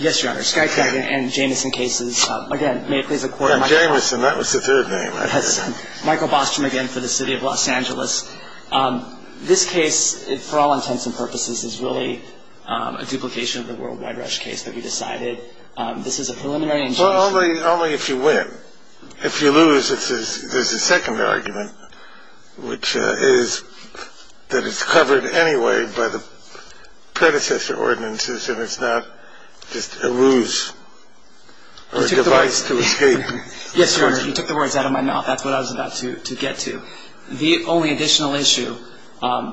Yes, your honor. Skype and Jamison cases. Again, may it please the court. And Jamison, that was the third name I heard. Michael Bostrom again for the City of Los Angeles. This case, for all intents and purposes, is really a duplication of the World Wide Rush case that we decided. This is a preliminary injunction. Well, only if you win. If you lose, there's a second argument, which is that it's covered anyway by the predecessor ordinances and it's not just a ruse or a device to escape. Yes, your honor. You took the words out of my mouth. That's what I was about to get to. The only additional issue,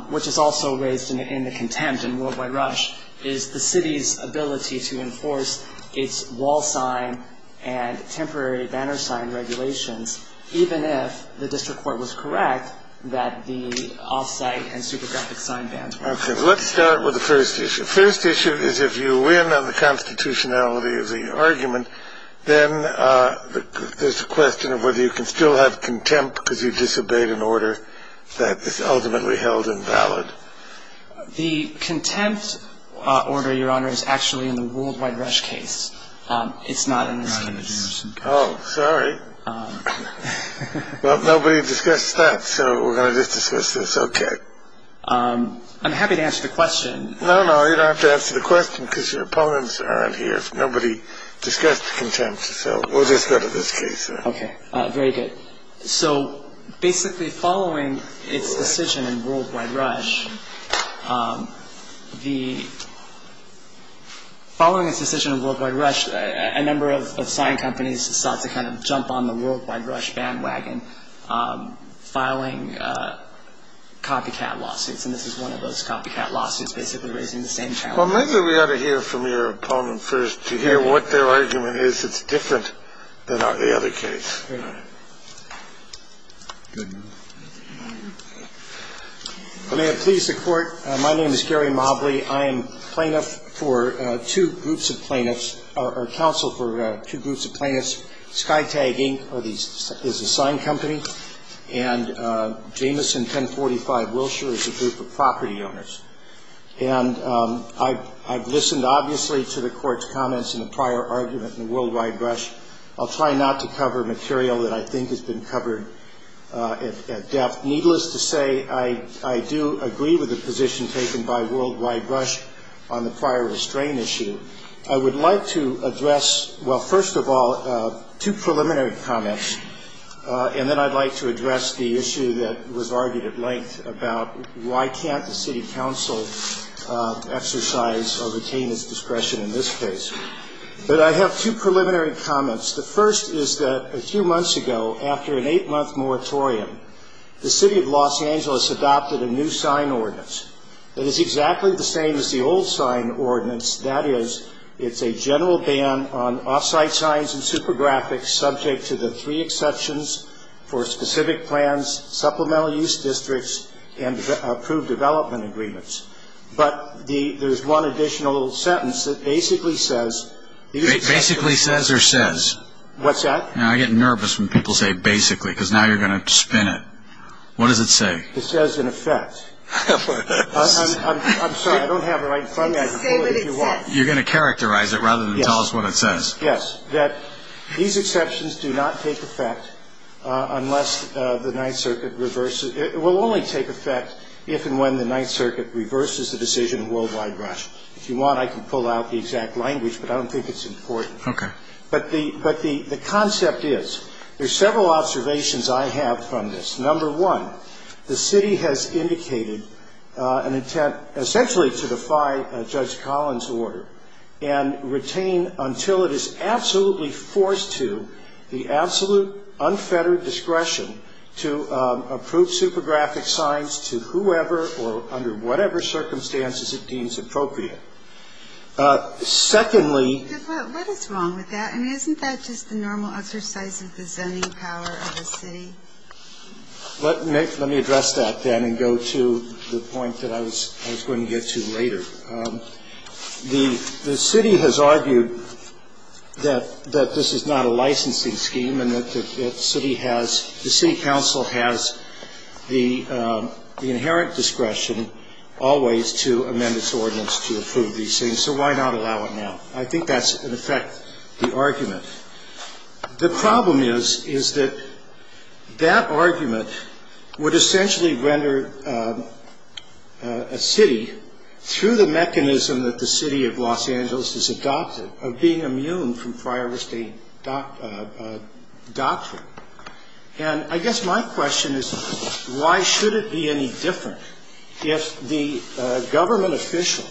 which is also raised in the contempt in World Wide Rush, is the city's ability to enforce its wall sign and temporary banner sign regulations, even if the district court was correct that the off-site and supergraphic sign banners. Okay. Let's start with the first issue. First issue is if you win on the constitutionality of the argument, then there's a question of whether you can still have contempt because you disobeyed an order that is ultimately held invalid. The contempt order, your honor, is actually in the World Wide Rush case. It's not in this case. Oh, sorry. Well, nobody discussed that. So we're going to just discuss this. Okay. I'm happy to answer the question. No, no. You don't have to answer the question because your opponents aren't here. Nobody discussed the contempt. So we'll just go to this case. Okay. Very good. So basically, following its decision in World Wide Rush, the following its decision in World Wide Rush, a number of sign companies sought to kind of jump on the World Wide Rush bandwagon, filing copycat lawsuits. And this is one of those copycat lawsuits basically raising the same challenge. Well, maybe we ought to hear from your opponent first to hear what their argument is. It's different than the other case. I may have pleased the Court. My name is Gary Mobley. I am plaintiff for two groups of plaintiffs or counsel for two groups of plaintiffs. Skytag Inc. is a sign company, and Jamison 1045 Wilshire is a group of property owners. And I've listened obviously to the Court's comments in the prior argument in the World Wide Rush. I'll try not to cover material that I think has been covered at depth. Needless to say, I do agree with the position taken by World Wide Rush on the prior restrain issue. I would like to address, well, first of all, two preliminary comments, and then I'd like to address the issue that was argued at length about why can't the city council exercise or retain its discretion in this case. But I have two preliminary comments. The first is that a few months ago, after an eight-month moratorium, the city of Los Angeles adopted a new sign ordinance that is exactly the same as the old sign ordinance, that is it's a general ban on off-site signs and super graphics subject to the three exceptions for specific plans, supplemental use districts, and approved development agreements. But there's one additional sentence that basically says... Basically says or says? What's that? I get nervous when people say basically, because now you're going to spin it. What does it say? It says in effect. I'm sorry, I don't have the right front end. You're going to characterize it rather than tell us what it says. Yes. These exceptions do not take effect unless the Ninth Circuit reverses. It will only take effect if and when the Ninth Circuit reverses the decision in worldwide rush. If you want, I can pull out the exact language, but I don't think it's important. Okay. But the concept is, there's several observations I have from this. Number one, the city has indicated an intent essentially to defy Judge Collins' order and retain until it is absolutely forced to the absolute unfettered discretion to approve super graphic signs to whoever or under whatever circumstances it deems appropriate. Secondly... What is wrong with that? I mean, isn't that just the normal exercise of the zoning power of a city? Let me address that then and go to the point that I was going to get to later. The city has argued that this is not a licensing scheme and that the city has, the city council has the inherent discretion always to amend its ordinance to approve these things, so why not allow it now? I think that's, in effect, the argument. The problem is, is that that argument would essentially render a city, through the mechanism that the city of Los Angeles has adopted, of being immune from prior estate doctrine. And I guess my question is, why should it be any different if the government official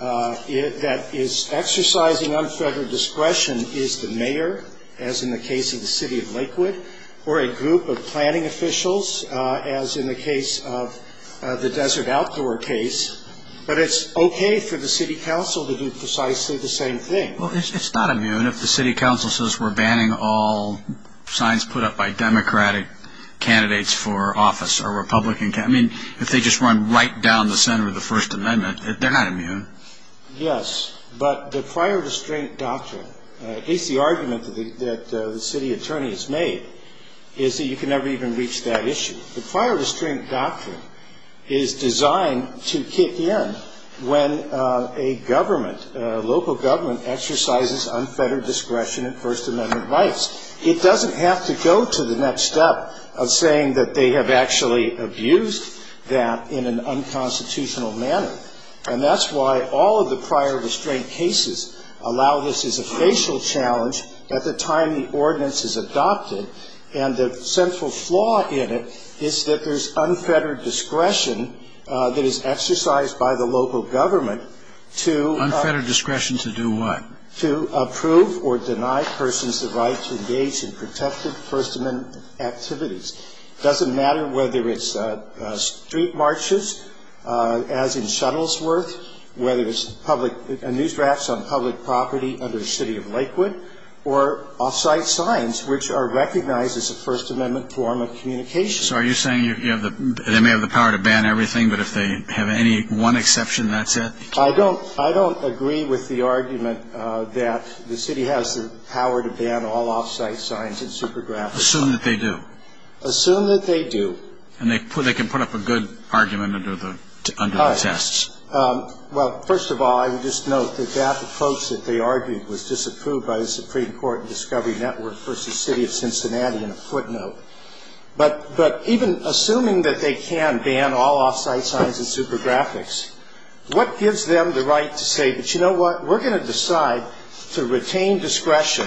that is exercising unfettered discretion is the mayor, as in the case of the city of Lakewood, or a group of planning officials, as in the case of the Desert Outdoor case, but it's okay for the city council to do precisely the same thing? Well, it's not immune. If the city council says we're banning all signs put up by Democratic candidates for office or Republican, I mean, if they just run right down the center of the First Amendment, they're not immune. Yes, but the prior restraint doctrine, at least the argument that the city attorney has made, is that you can never even reach that issue. The prior restraint doctrine is designed to kick in when a government, a local government exercises unfettered discretion in First Amendment rights. It doesn't have to go to the next step of saying that they have actually abused that in an unconstitutional manner. And that's why all of the prior restraint cases allow this as a facial challenge at the time the ordinance is adopted. And the central flaw in it is that there's unfettered discretion that is exercised by the local government to ‑‑ Unfettered discretion to do what? To approve or deny persons the right to engage in protected First Amendment activities. It doesn't matter whether it's street marches, as in Shuttlesworth, whether it's news drafts on public property under the city of Lakewood, or off‑site signs which are recognized as a First Amendment form of communication. So are you saying they may have the power to ban everything, but if they have any one exception, that's it? I don't agree with the argument that the city has the power to ban all off‑site signs and super graphics. Assume that they do. Assume that they do. And they can put up a good argument under the tests. Well, first of all, I would just note that that approach that they argued was disapproved by the Supreme Court in Discovery Network v. City of Cincinnati in a footnote. But even assuming that they can ban all off‑site signs and super graphics, what gives them the right to say, you know what, we're going to decide to retain discretion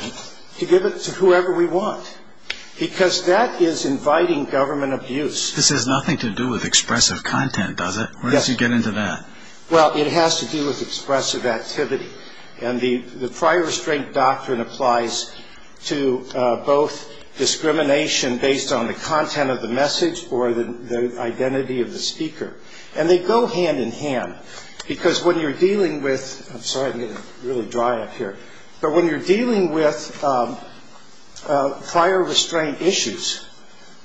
to give it to whoever we want. Because that is inviting government abuse. This has nothing to do with expressive content, does it? Yes. Where did you get into that? Well, it has to do with expressive activity. And the prior restraint doctrine applies to both discrimination based on the content of the message or the identity of the speaker. And they go hand in hand. Because when you're dealing with ‑‑ I'm sorry, I'm getting really dry up here. But when you're dealing with prior restraint issues,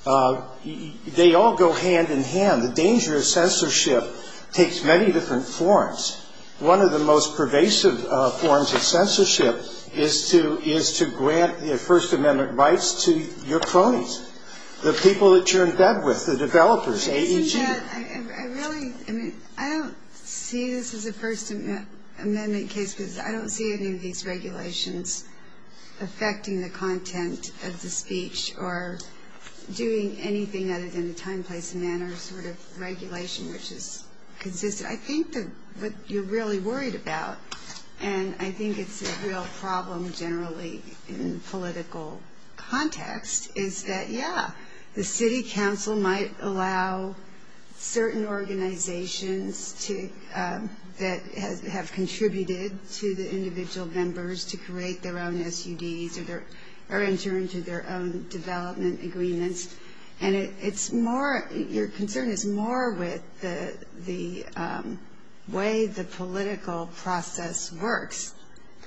they all go hand in hand. The danger of censorship takes many different forms. One of the most pervasive forms of censorship is to grant First Amendment rights to your cronies, the people that you're in bed with, the developers, AEG. Yeah, I really ‑‑ I don't see this as a First Amendment case because I don't see any of these regulations affecting the content of the speech or doing anything other than the time, place and manner sort of regulation, which is consistent. I think what you're really worried about, and I think it's a real problem generally in political context, is that, yeah, the city council might allow certain organizations that have contributed to the individual members to create their own SUDs or enter into their own development agreements. And it's more ‑‑ your concern is more with the way the political process works,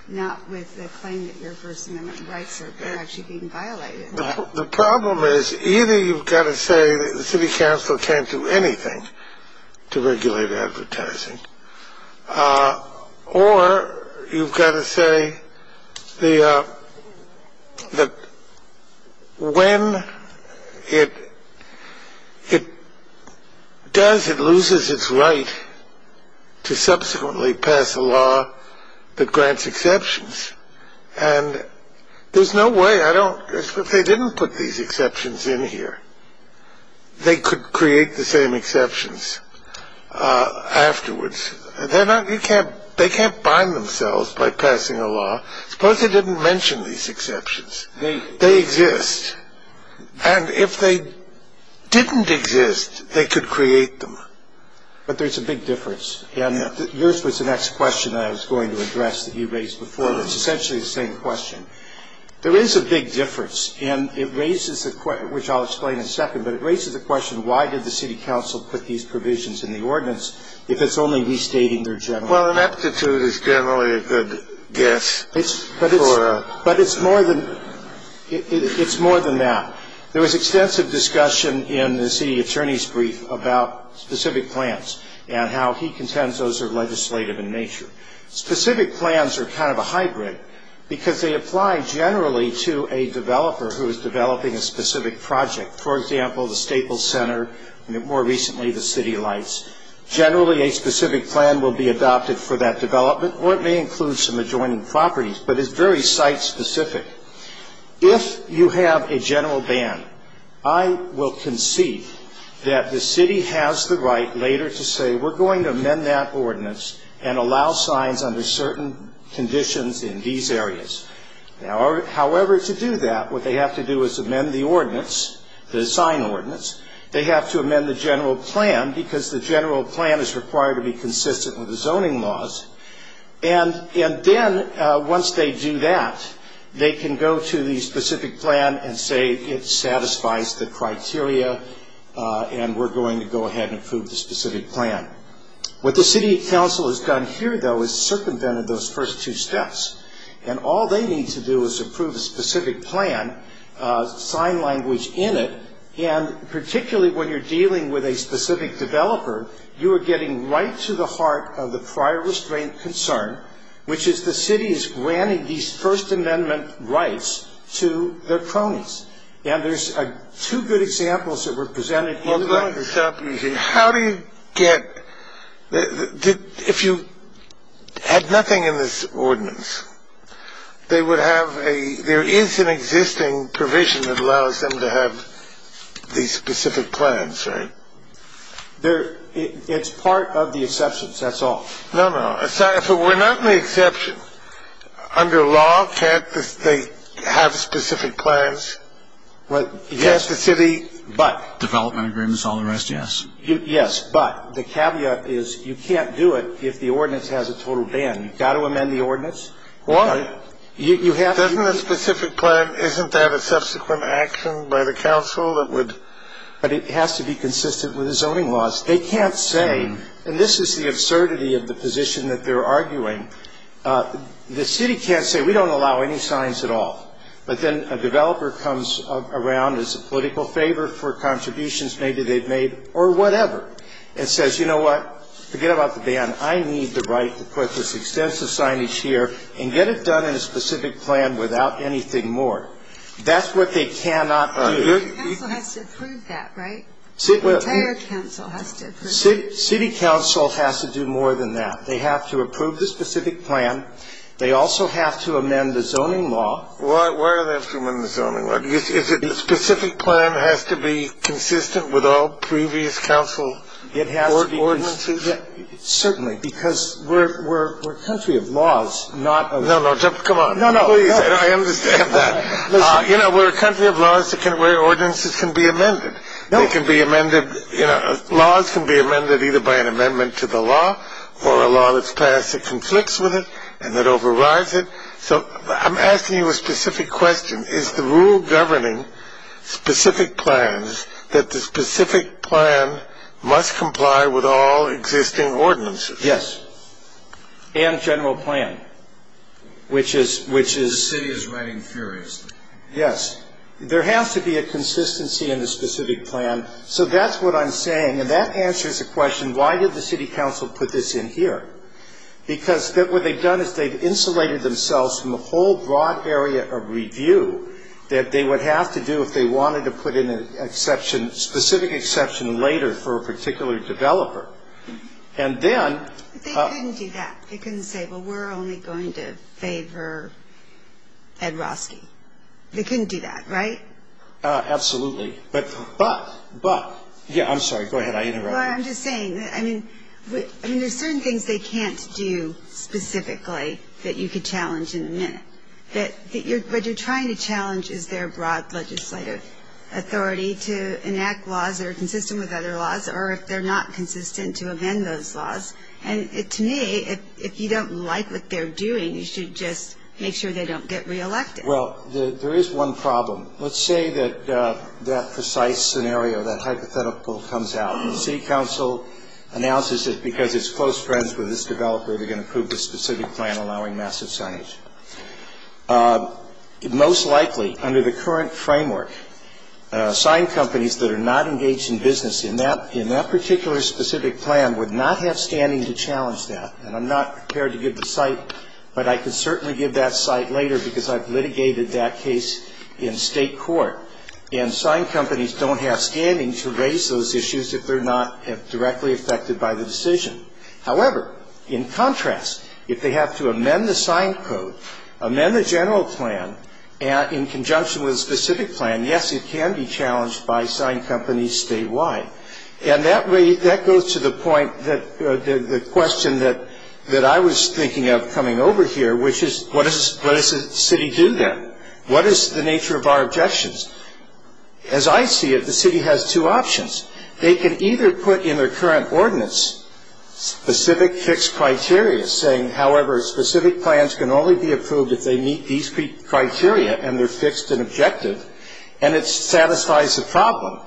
not with the claim that your First Amendment rights are actually being violated. The problem is either you've got to say that the city council can't do anything to regulate advertising or you've got to say that when it does, it loses its right to subsequently pass a law that grants exceptions. And there's no way I don't ‑‑ if they didn't put these exceptions in here, they could create the same exceptions afterwards. They're not ‑‑ you can't ‑‑ they can't bind themselves by passing a law. Suppose they didn't mention these exceptions. They exist. And if they didn't exist, they could create them. But there's a big difference. And yours was the next question that I was going to address that you raised before, but it's essentially the same question. There is a big difference, and it raises a ‑‑ which I'll explain in a second, but it raises a question, why did the city council put these provisions in the ordinance if it's only restating their general ‑‑ Well, an aptitude is generally a good guess for a ‑‑ But it's more than ‑‑ it's more than that. There was extensive discussion in the city attorney's brief about specific plans and how he contends those are legislative in nature. Specific plans are kind of a hybrid, because they apply generally to a developer who is developing a specific project. For example, the Staples Center, and more recently the City Lights. Generally, a specific plan will be adopted for that development, or it may include some adjoining properties, but it's very site specific. If you have a general ban, I will concede that the city has the right later to say, we're going to amend that ordinance and allow signs under certain conditions in these areas. However, to do that, what they have to do is amend the ordinance, the sign ordinance. They have to amend the general plan, because the general plan is required to be consistent with the zoning laws. And then, once they do that, they can go to the specific plan and say, it satisfies the criteria, and we're going to go ahead and approve the specific plan. What the city council has done here, though, is circumvented those first two steps. And all they need to do is approve a specific plan, sign language in it, and particularly when you're dealing with a specific developer, you are getting right to the heart of the prior restraint concern, which is the city is granting these First Amendment rights to their cronies. And there's two good examples that were presented in the ordinance. How do you get – if you had nothing in this ordinance, they would have a – there is an existing provision that allows them to have these specific plans, right? It's part of the exceptions, that's all. No, no. If it were not an exception, under law, can't they have specific plans? Yes, the city – But – Development agreements, all the rest, yes. Yes, but the caveat is you can't do it if the ordinance has a total ban. You've got to amend the ordinance. Why? Doesn't a specific plan – isn't that a subsequent action by the council that would – But it has to be consistent with the zoning laws. They can't say – and this is the absurdity of the position that they're arguing. The city can't say, we don't allow any signs at all. But then a developer comes around as a political favor for contributions maybe they've made, or whatever, and says, you know what, forget about the ban. I need the right to put this extensive signage here and get it done in a specific plan without anything more. That's what they cannot do. The council has to approve that, right? The entire council has to approve that. City council has to do more than that. They have to approve the specific plan. They also have to amend the zoning law. Why do they have to amend the zoning law? Because a specific plan has to be consistent with all previous council ordinances? Certainly, because we're a country of laws, not of – No, no, come on. No, no. Please, I understand that. You know, we're a country of laws where ordinances can be amended. They can be amended – laws can be amended either by an amendment to the law or a law that's passed that conflicts with it and that overrides it. So I'm asking you a specific question. Is the rule governing specific plans that the specific plan must comply with all existing ordinances? Yes. There has to be a consistency in the specific plan. So that's what I'm saying. And that answers the question, why did the city council put this in here? Because what they've done is they've insulated themselves from a whole broad area of review that they would have to do if they wanted to put in an exception, specific exception later for a particular developer. And then – They couldn't do that. They couldn't say, well, we're only going to favor Ed Roski. They couldn't do that, right? Absolutely. But – but – yeah, I'm sorry. Go ahead. I interrupted. Well, I'm just saying, I mean, there's certain things they can't do specifically that you could challenge in a minute. What you're trying to challenge is their broad legislative authority to enact laws that are consistent with other laws or if they're not consistent, to amend those laws. And to me, if you don't like what they're doing, you should just make sure they don't get reelected. Well, there is one problem. Let's say that that precise scenario, that hypothetical comes out. The city council announces that because it's close friends with this developer, they're going to approve a specific plan allowing massive signage. Most likely, under the current framework, sign companies that are not engaged in business in that particular specific plan would not have standing to challenge that. And I'm not prepared to give the cite, but I can certainly give that cite later because I've litigated that case in state court. And sign companies don't have standing to raise those issues if they're not directly affected by the decision. However, in contrast, if they have to amend the sign code, amend the general plan in conjunction with a specific plan, yes, it can be challenged by sign companies statewide. And that goes to the point that the question that I was thinking of coming over here, which is what does the city do then? What is the nature of our objections? As I see it, the city has two options. They can either put in their current ordinance specific fixed criteria saying, however, specific plans can only be approved if they meet these criteria and they're fixed and objective and it satisfies the problem.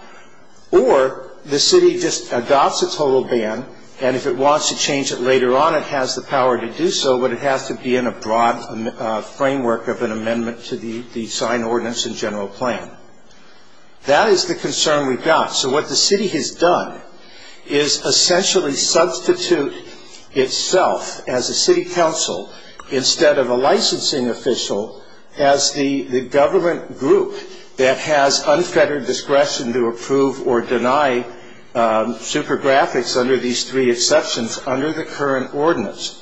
Or the city just adopts a total ban, and if it wants to change it later on, it has the power to do so, but it has to be in a broad framework of an amendment to the sign ordinance and general plan. That is the concern we've got. So what the city has done is essentially substitute itself as a city council instead of a licensing official as the government group that has unfettered discretion to approve or deny super graphics under these three exceptions under the current ordinance.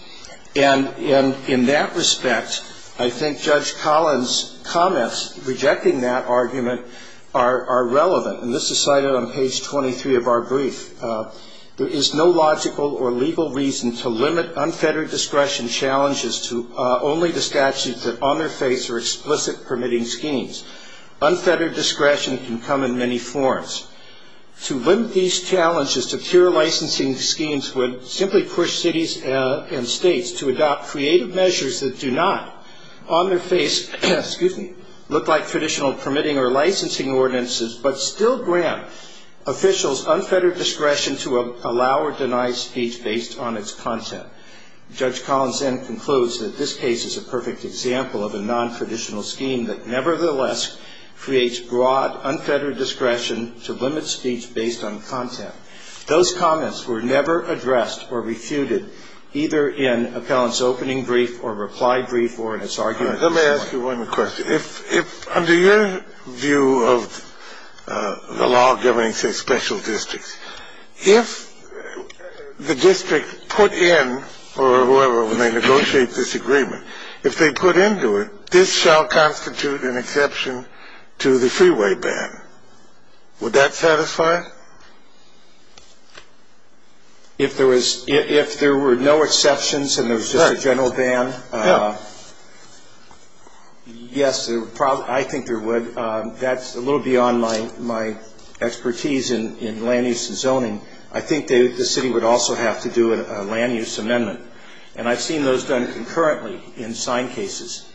And in that respect, I think Judge Collins' comments rejecting that argument are relevant. And this is cited on page 23 of our brief. There is no logical or legal reason to limit unfettered discretion challenges to only the statutes that on their face are explicit permitting schemes. Unfettered discretion can come in many forms. To limit these challenges to pure licensing schemes would simply push cities and states to adopt creative measures that do not on their face look like traditional permitting or licensing ordinances but still grant officials unfettered discretion to allow or deny speech based on its content. Judge Collins then concludes that this case is a perfect example of a non-traditional scheme that nevertheless creates broad unfettered discretion to limit speech based on content. Those comments were never addressed or refuted either in appellant's opening brief or reply brief or in his argument. Let me ask you one question. If under your view of the law governing, say, special districts, if the district put in or whoever when they negotiate this agreement, if they put into it, this shall constitute an exception to the freeway ban. Would that satisfy? If there were no exceptions and there was just a general ban, yes, I think there would. That's a little beyond my expertise in land use and zoning. I think the city would also have to do a land use amendment, and I've seen those done concurrently in signed cases.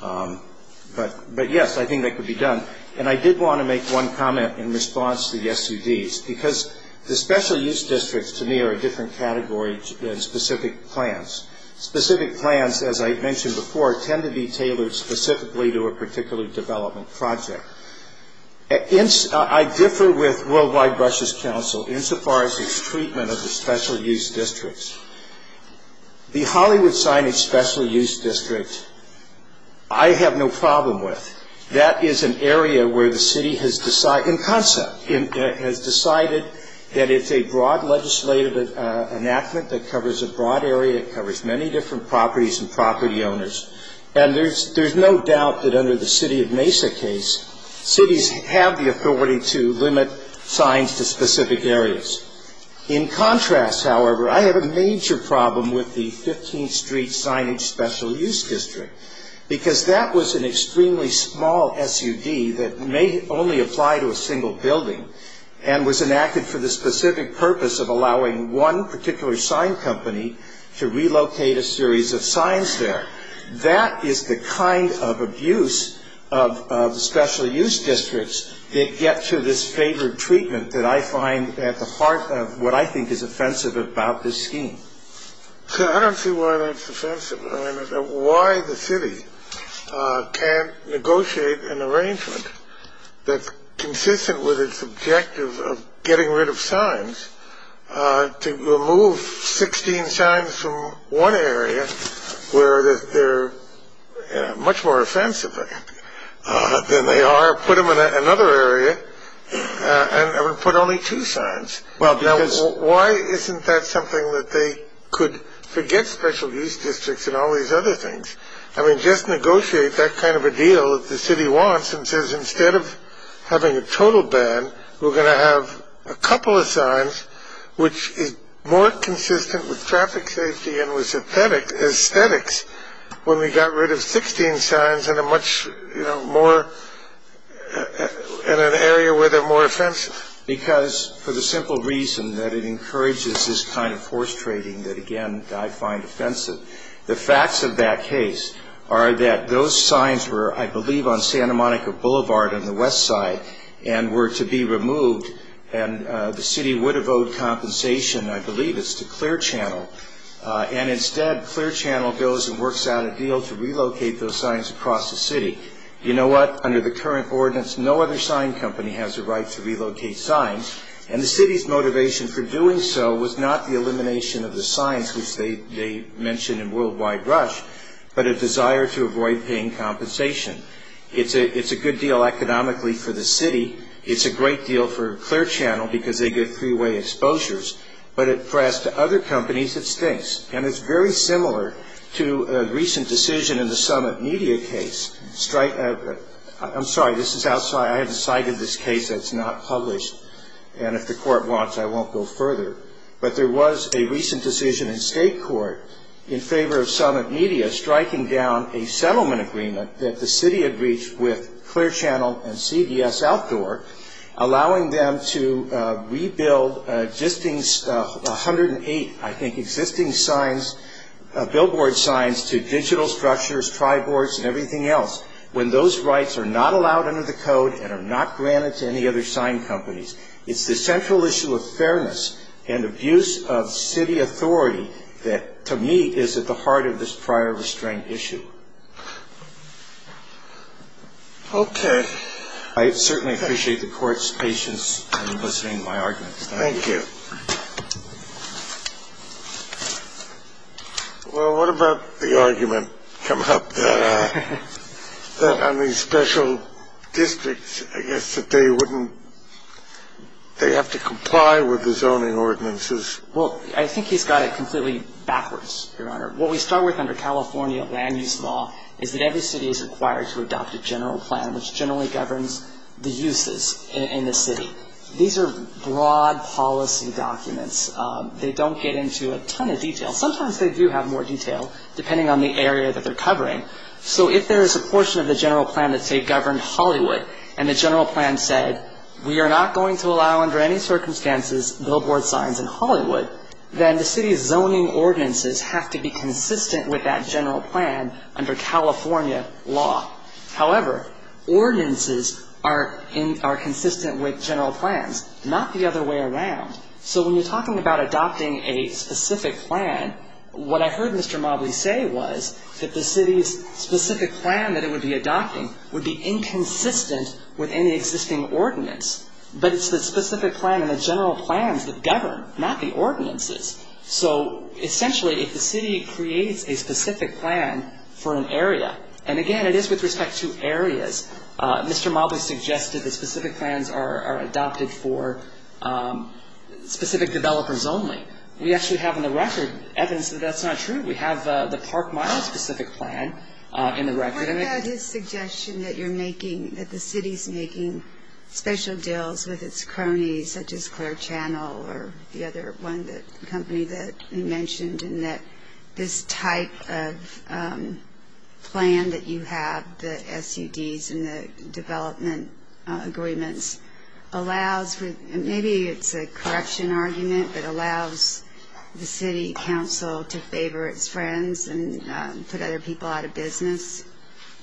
But, yes, I think that could be done. And I did want to make one comment in response to the SUDs, because the special use districts to me are a different category than specific plans. Specific plans, as I mentioned before, tend to be tailored specifically to a particular development project. I differ with Worldwide Brushes Council insofar as its treatment of the special use districts. The Hollywood Signage Special Use District I have no problem with. That is an area where the city has decided, in concept, has decided that it's a broad legislative enactment that covers a broad area. It covers many different properties and property owners. And there's no doubt that under the City of Mesa case, cities have the authority to limit signs to specific areas. In contrast, however, I have a major problem with the 15th Street Signage Special Use District, because that was an extremely small SUD that may only apply to a single building and was enacted for the specific purpose of allowing one particular sign company to relocate a series of signs there. That is the kind of abuse of special use districts that get to this favored treatment that I find at the heart of what I think is offensive about this scheme. I don't see why that's offensive. Why the city can't negotiate an arrangement that's consistent with its objective of getting rid of signs to remove 16 signs from one area where they're much more offensive than they are, put them in another area and put only two signs. Why isn't that something that they could forget special use districts and all these other things? I mean, just negotiate that kind of a deal if the city wants and says instead of having a total ban, we're going to have a couple of signs which is more consistent with traffic safety and with aesthetics when we got rid of 16 signs in an area where they're more offensive. Because for the simple reason that it encourages this kind of force trading that, again, I find offensive. The facts of that case are that those signs were, I believe, on Santa Monica Boulevard on the west side and were to be removed and the city would have owed compensation, I believe it's to Clear Channel. And instead, Clear Channel goes and works out a deal to relocate those signs across the city. You know what? Under the current ordinance, no other sign company has the right to relocate signs and the city's motivation for doing so was not the elimination of the signs, which they mentioned in Worldwide Rush, but a desire to avoid paying compensation. It's a good deal economically for the city. It's a great deal for Clear Channel because they get three-way exposures. But as to other companies, it stinks. And it's very similar to a recent decision in the Summit Media case. I'm sorry. This is outside. I haven't cited this case. It's not published. And if the court wants, I won't go further. But there was a recent decision in state court in favor of Summit Media striking down a settlement agreement that the city had reached with Clear Channel and CDS Outdoor, allowing them to rebuild just 108, I think, existing signs, billboard signs, to digital structures, tri-boards, and everything else, when those rights are not allowed under the code and are not granted to any other sign companies. It's the central issue of fairness and abuse of city authority that, to me, is at the heart of this prior restraint issue. Okay. I certainly appreciate the Court's patience in listening to my arguments. Thank you. Well, what about the argument come up that on these special districts, I guess, that they wouldn't they have to comply with the zoning ordinances? Well, I think he's got it completely backwards, Your Honor. What we start with under California land use law is that every city is required to adopt a general plan, which generally governs the uses in the city. These are broad policy documents. They don't get into a ton of detail. Sometimes they do have more detail, depending on the area that they're covering. So if there is a portion of the general plan that, say, governed Hollywood, and the general plan said we are not going to allow under any circumstances billboard signs in Hollywood, then the city's zoning ordinances have to be consistent with that general plan under California law. However, ordinances are consistent with general plans, not the other way around. So when you're talking about adopting a specific plan, what I heard Mr. Mobley say was that the city's specific plan that it would be adopting would be inconsistent with any existing ordinance. But it's the specific plan and the general plans that govern, not the ordinances. So essentially, if the city creates a specific plan for an area, and, again, it is with respect to areas, Mr. Mobley suggested that specific plans are adopted for specific developers only. We actually have in the record evidence that that's not true. We have the Park Mile specific plan in the record. What about his suggestion that you're making, that the city's making special deals with its cronies such as Clare Channel or the other one, the company that you mentioned, and that this type of plan that you have, the SUDs and the development agreements, allows, maybe it's a correction argument, but allows the city council to favor its friends and put other people out of business?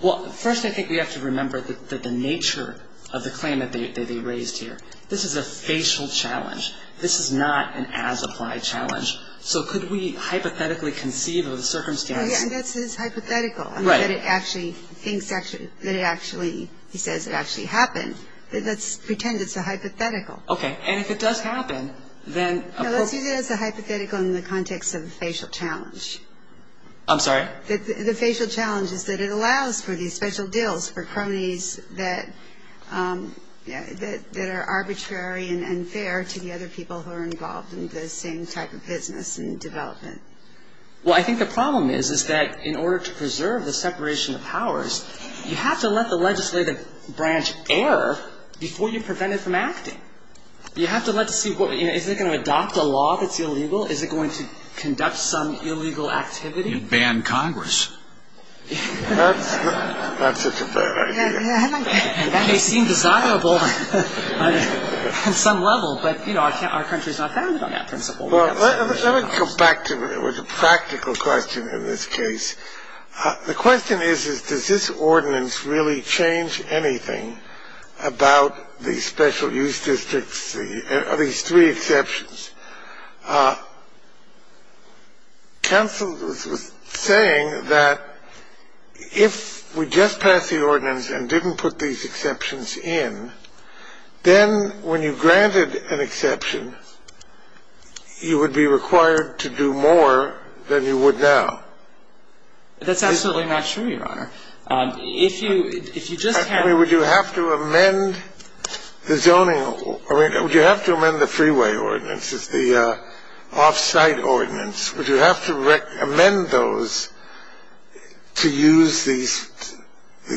Well, first I think we have to remember the nature of the claim that they raised here. This is a facial challenge. This is not an as-applied challenge. So could we hypothetically conceive of the circumstance? Yeah, and that's his hypothetical. Right. That it actually thinks that it actually, he says it actually happened. Let's pretend it's a hypothetical. Okay. And if it does happen, then appropriate. No, let's use it as a hypothetical in the context of a facial challenge. I'm sorry? The facial challenge is that it allows for these special deals for cronies that are arbitrary and unfair to the other people who are involved in the same type of business and development. Well, I think the problem is that in order to preserve the separation of powers, you have to let the legislative branch err before you prevent it from acting. You have to let it see, is it going to adopt a law that's illegal? Is it going to conduct some illegal activity? Ban Congress. That's not such a bad idea. That may seem desirable on some level, but, you know, our country's not founded on that principle. Well, let me come back to it with a practical question in this case. The question is, is does this ordinance really change anything about the special use districts, at least three exceptions? Counsel was saying that if we just pass the ordinance and didn't put these exceptions in, then when you granted an exception, you would be required to do more than you would now. That's absolutely not true, Your Honor. If you just have to amend the zoning or would you have to amend the freeway ordinance? The off-site ordinance, would you have to amend those to use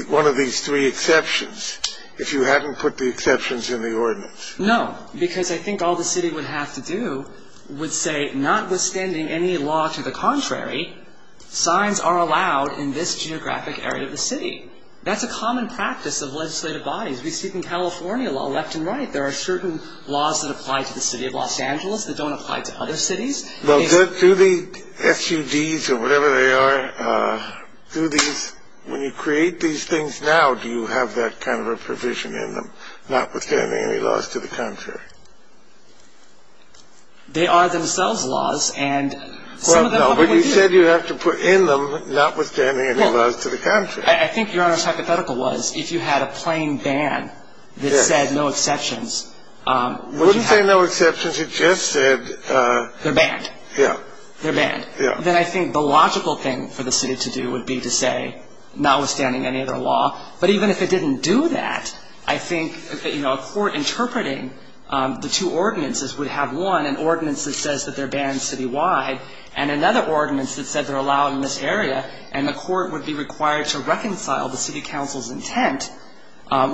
one of these three exceptions if you hadn't put the exceptions in the ordinance? No, because I think all the city would have to do would say notwithstanding any law to the contrary, signs are allowed in this geographic area of the city. That's a common practice of legislative bodies. We speak in California law, left and right. There are certain laws that apply to the city of Los Angeles that don't apply to other cities. Well, do the SUDs or whatever they are, do these, when you create these things now, do you have that kind of a provision in them, notwithstanding any laws to the contrary? They are themselves laws and some of them probably do. Well, no, but you said you'd have to put in them notwithstanding any laws to the contrary. I think Your Honor's hypothetical was if you had a plain ban that said no exceptions. Wouldn't say no exceptions. You just said. They're banned. Yeah. They're banned. Then I think the logical thing for the city to do would be to say notwithstanding any other law. But even if it didn't do that, I think a court interpreting the two ordinances would have, one, an ordinance that says that they're banned citywide and another ordinance that said they're allowed in this area and the court would be required to reconcile the city council's intent,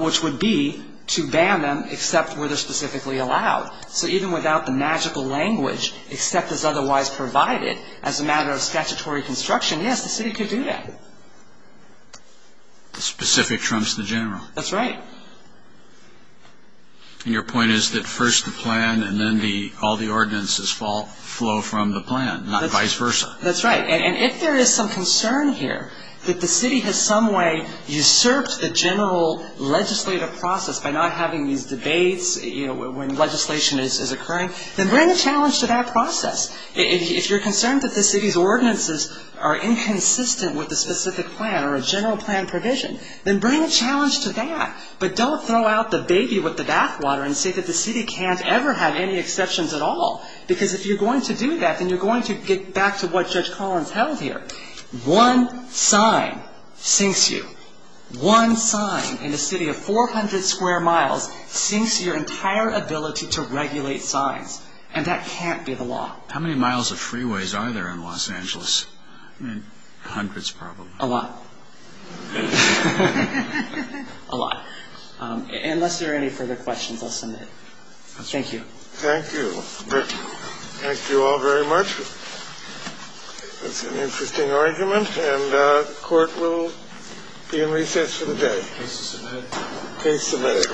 which would be to ban them except where they're specifically allowed. So even without the magical language, except as otherwise provided, as a matter of statutory construction, yes, the city could do that. The specific trumps the general. That's right. And your point is that first the plan and then all the ordinances flow from the plan, not vice versa. That's right. And if there is some concern here that the city has some way usurped the general legislative process by not having these debates when legislation is occurring, then bring a challenge to that process. If you're concerned that the city's ordinances are inconsistent with the specific plan or a general plan provision, then bring a challenge to that. But don't throw out the baby with the bathwater and say that the city can't ever have any exceptions at all, because if you're going to do that, then you're going to get back to what Judge Collins held here. One sign sinks you. One sign in a city of 400 square miles sinks your entire ability to regulate signs. And that can't be the law. How many miles of freeways are there in Los Angeles? I mean, hundreds probably. A lot. A lot. Unless there are any further questions, I'll submit. Thank you. Thank you. Thank you all very much. That's an interesting argument. And the court will be in recess for the day. Case submitted. Case submitted. Right. All rise. Court is adjourned.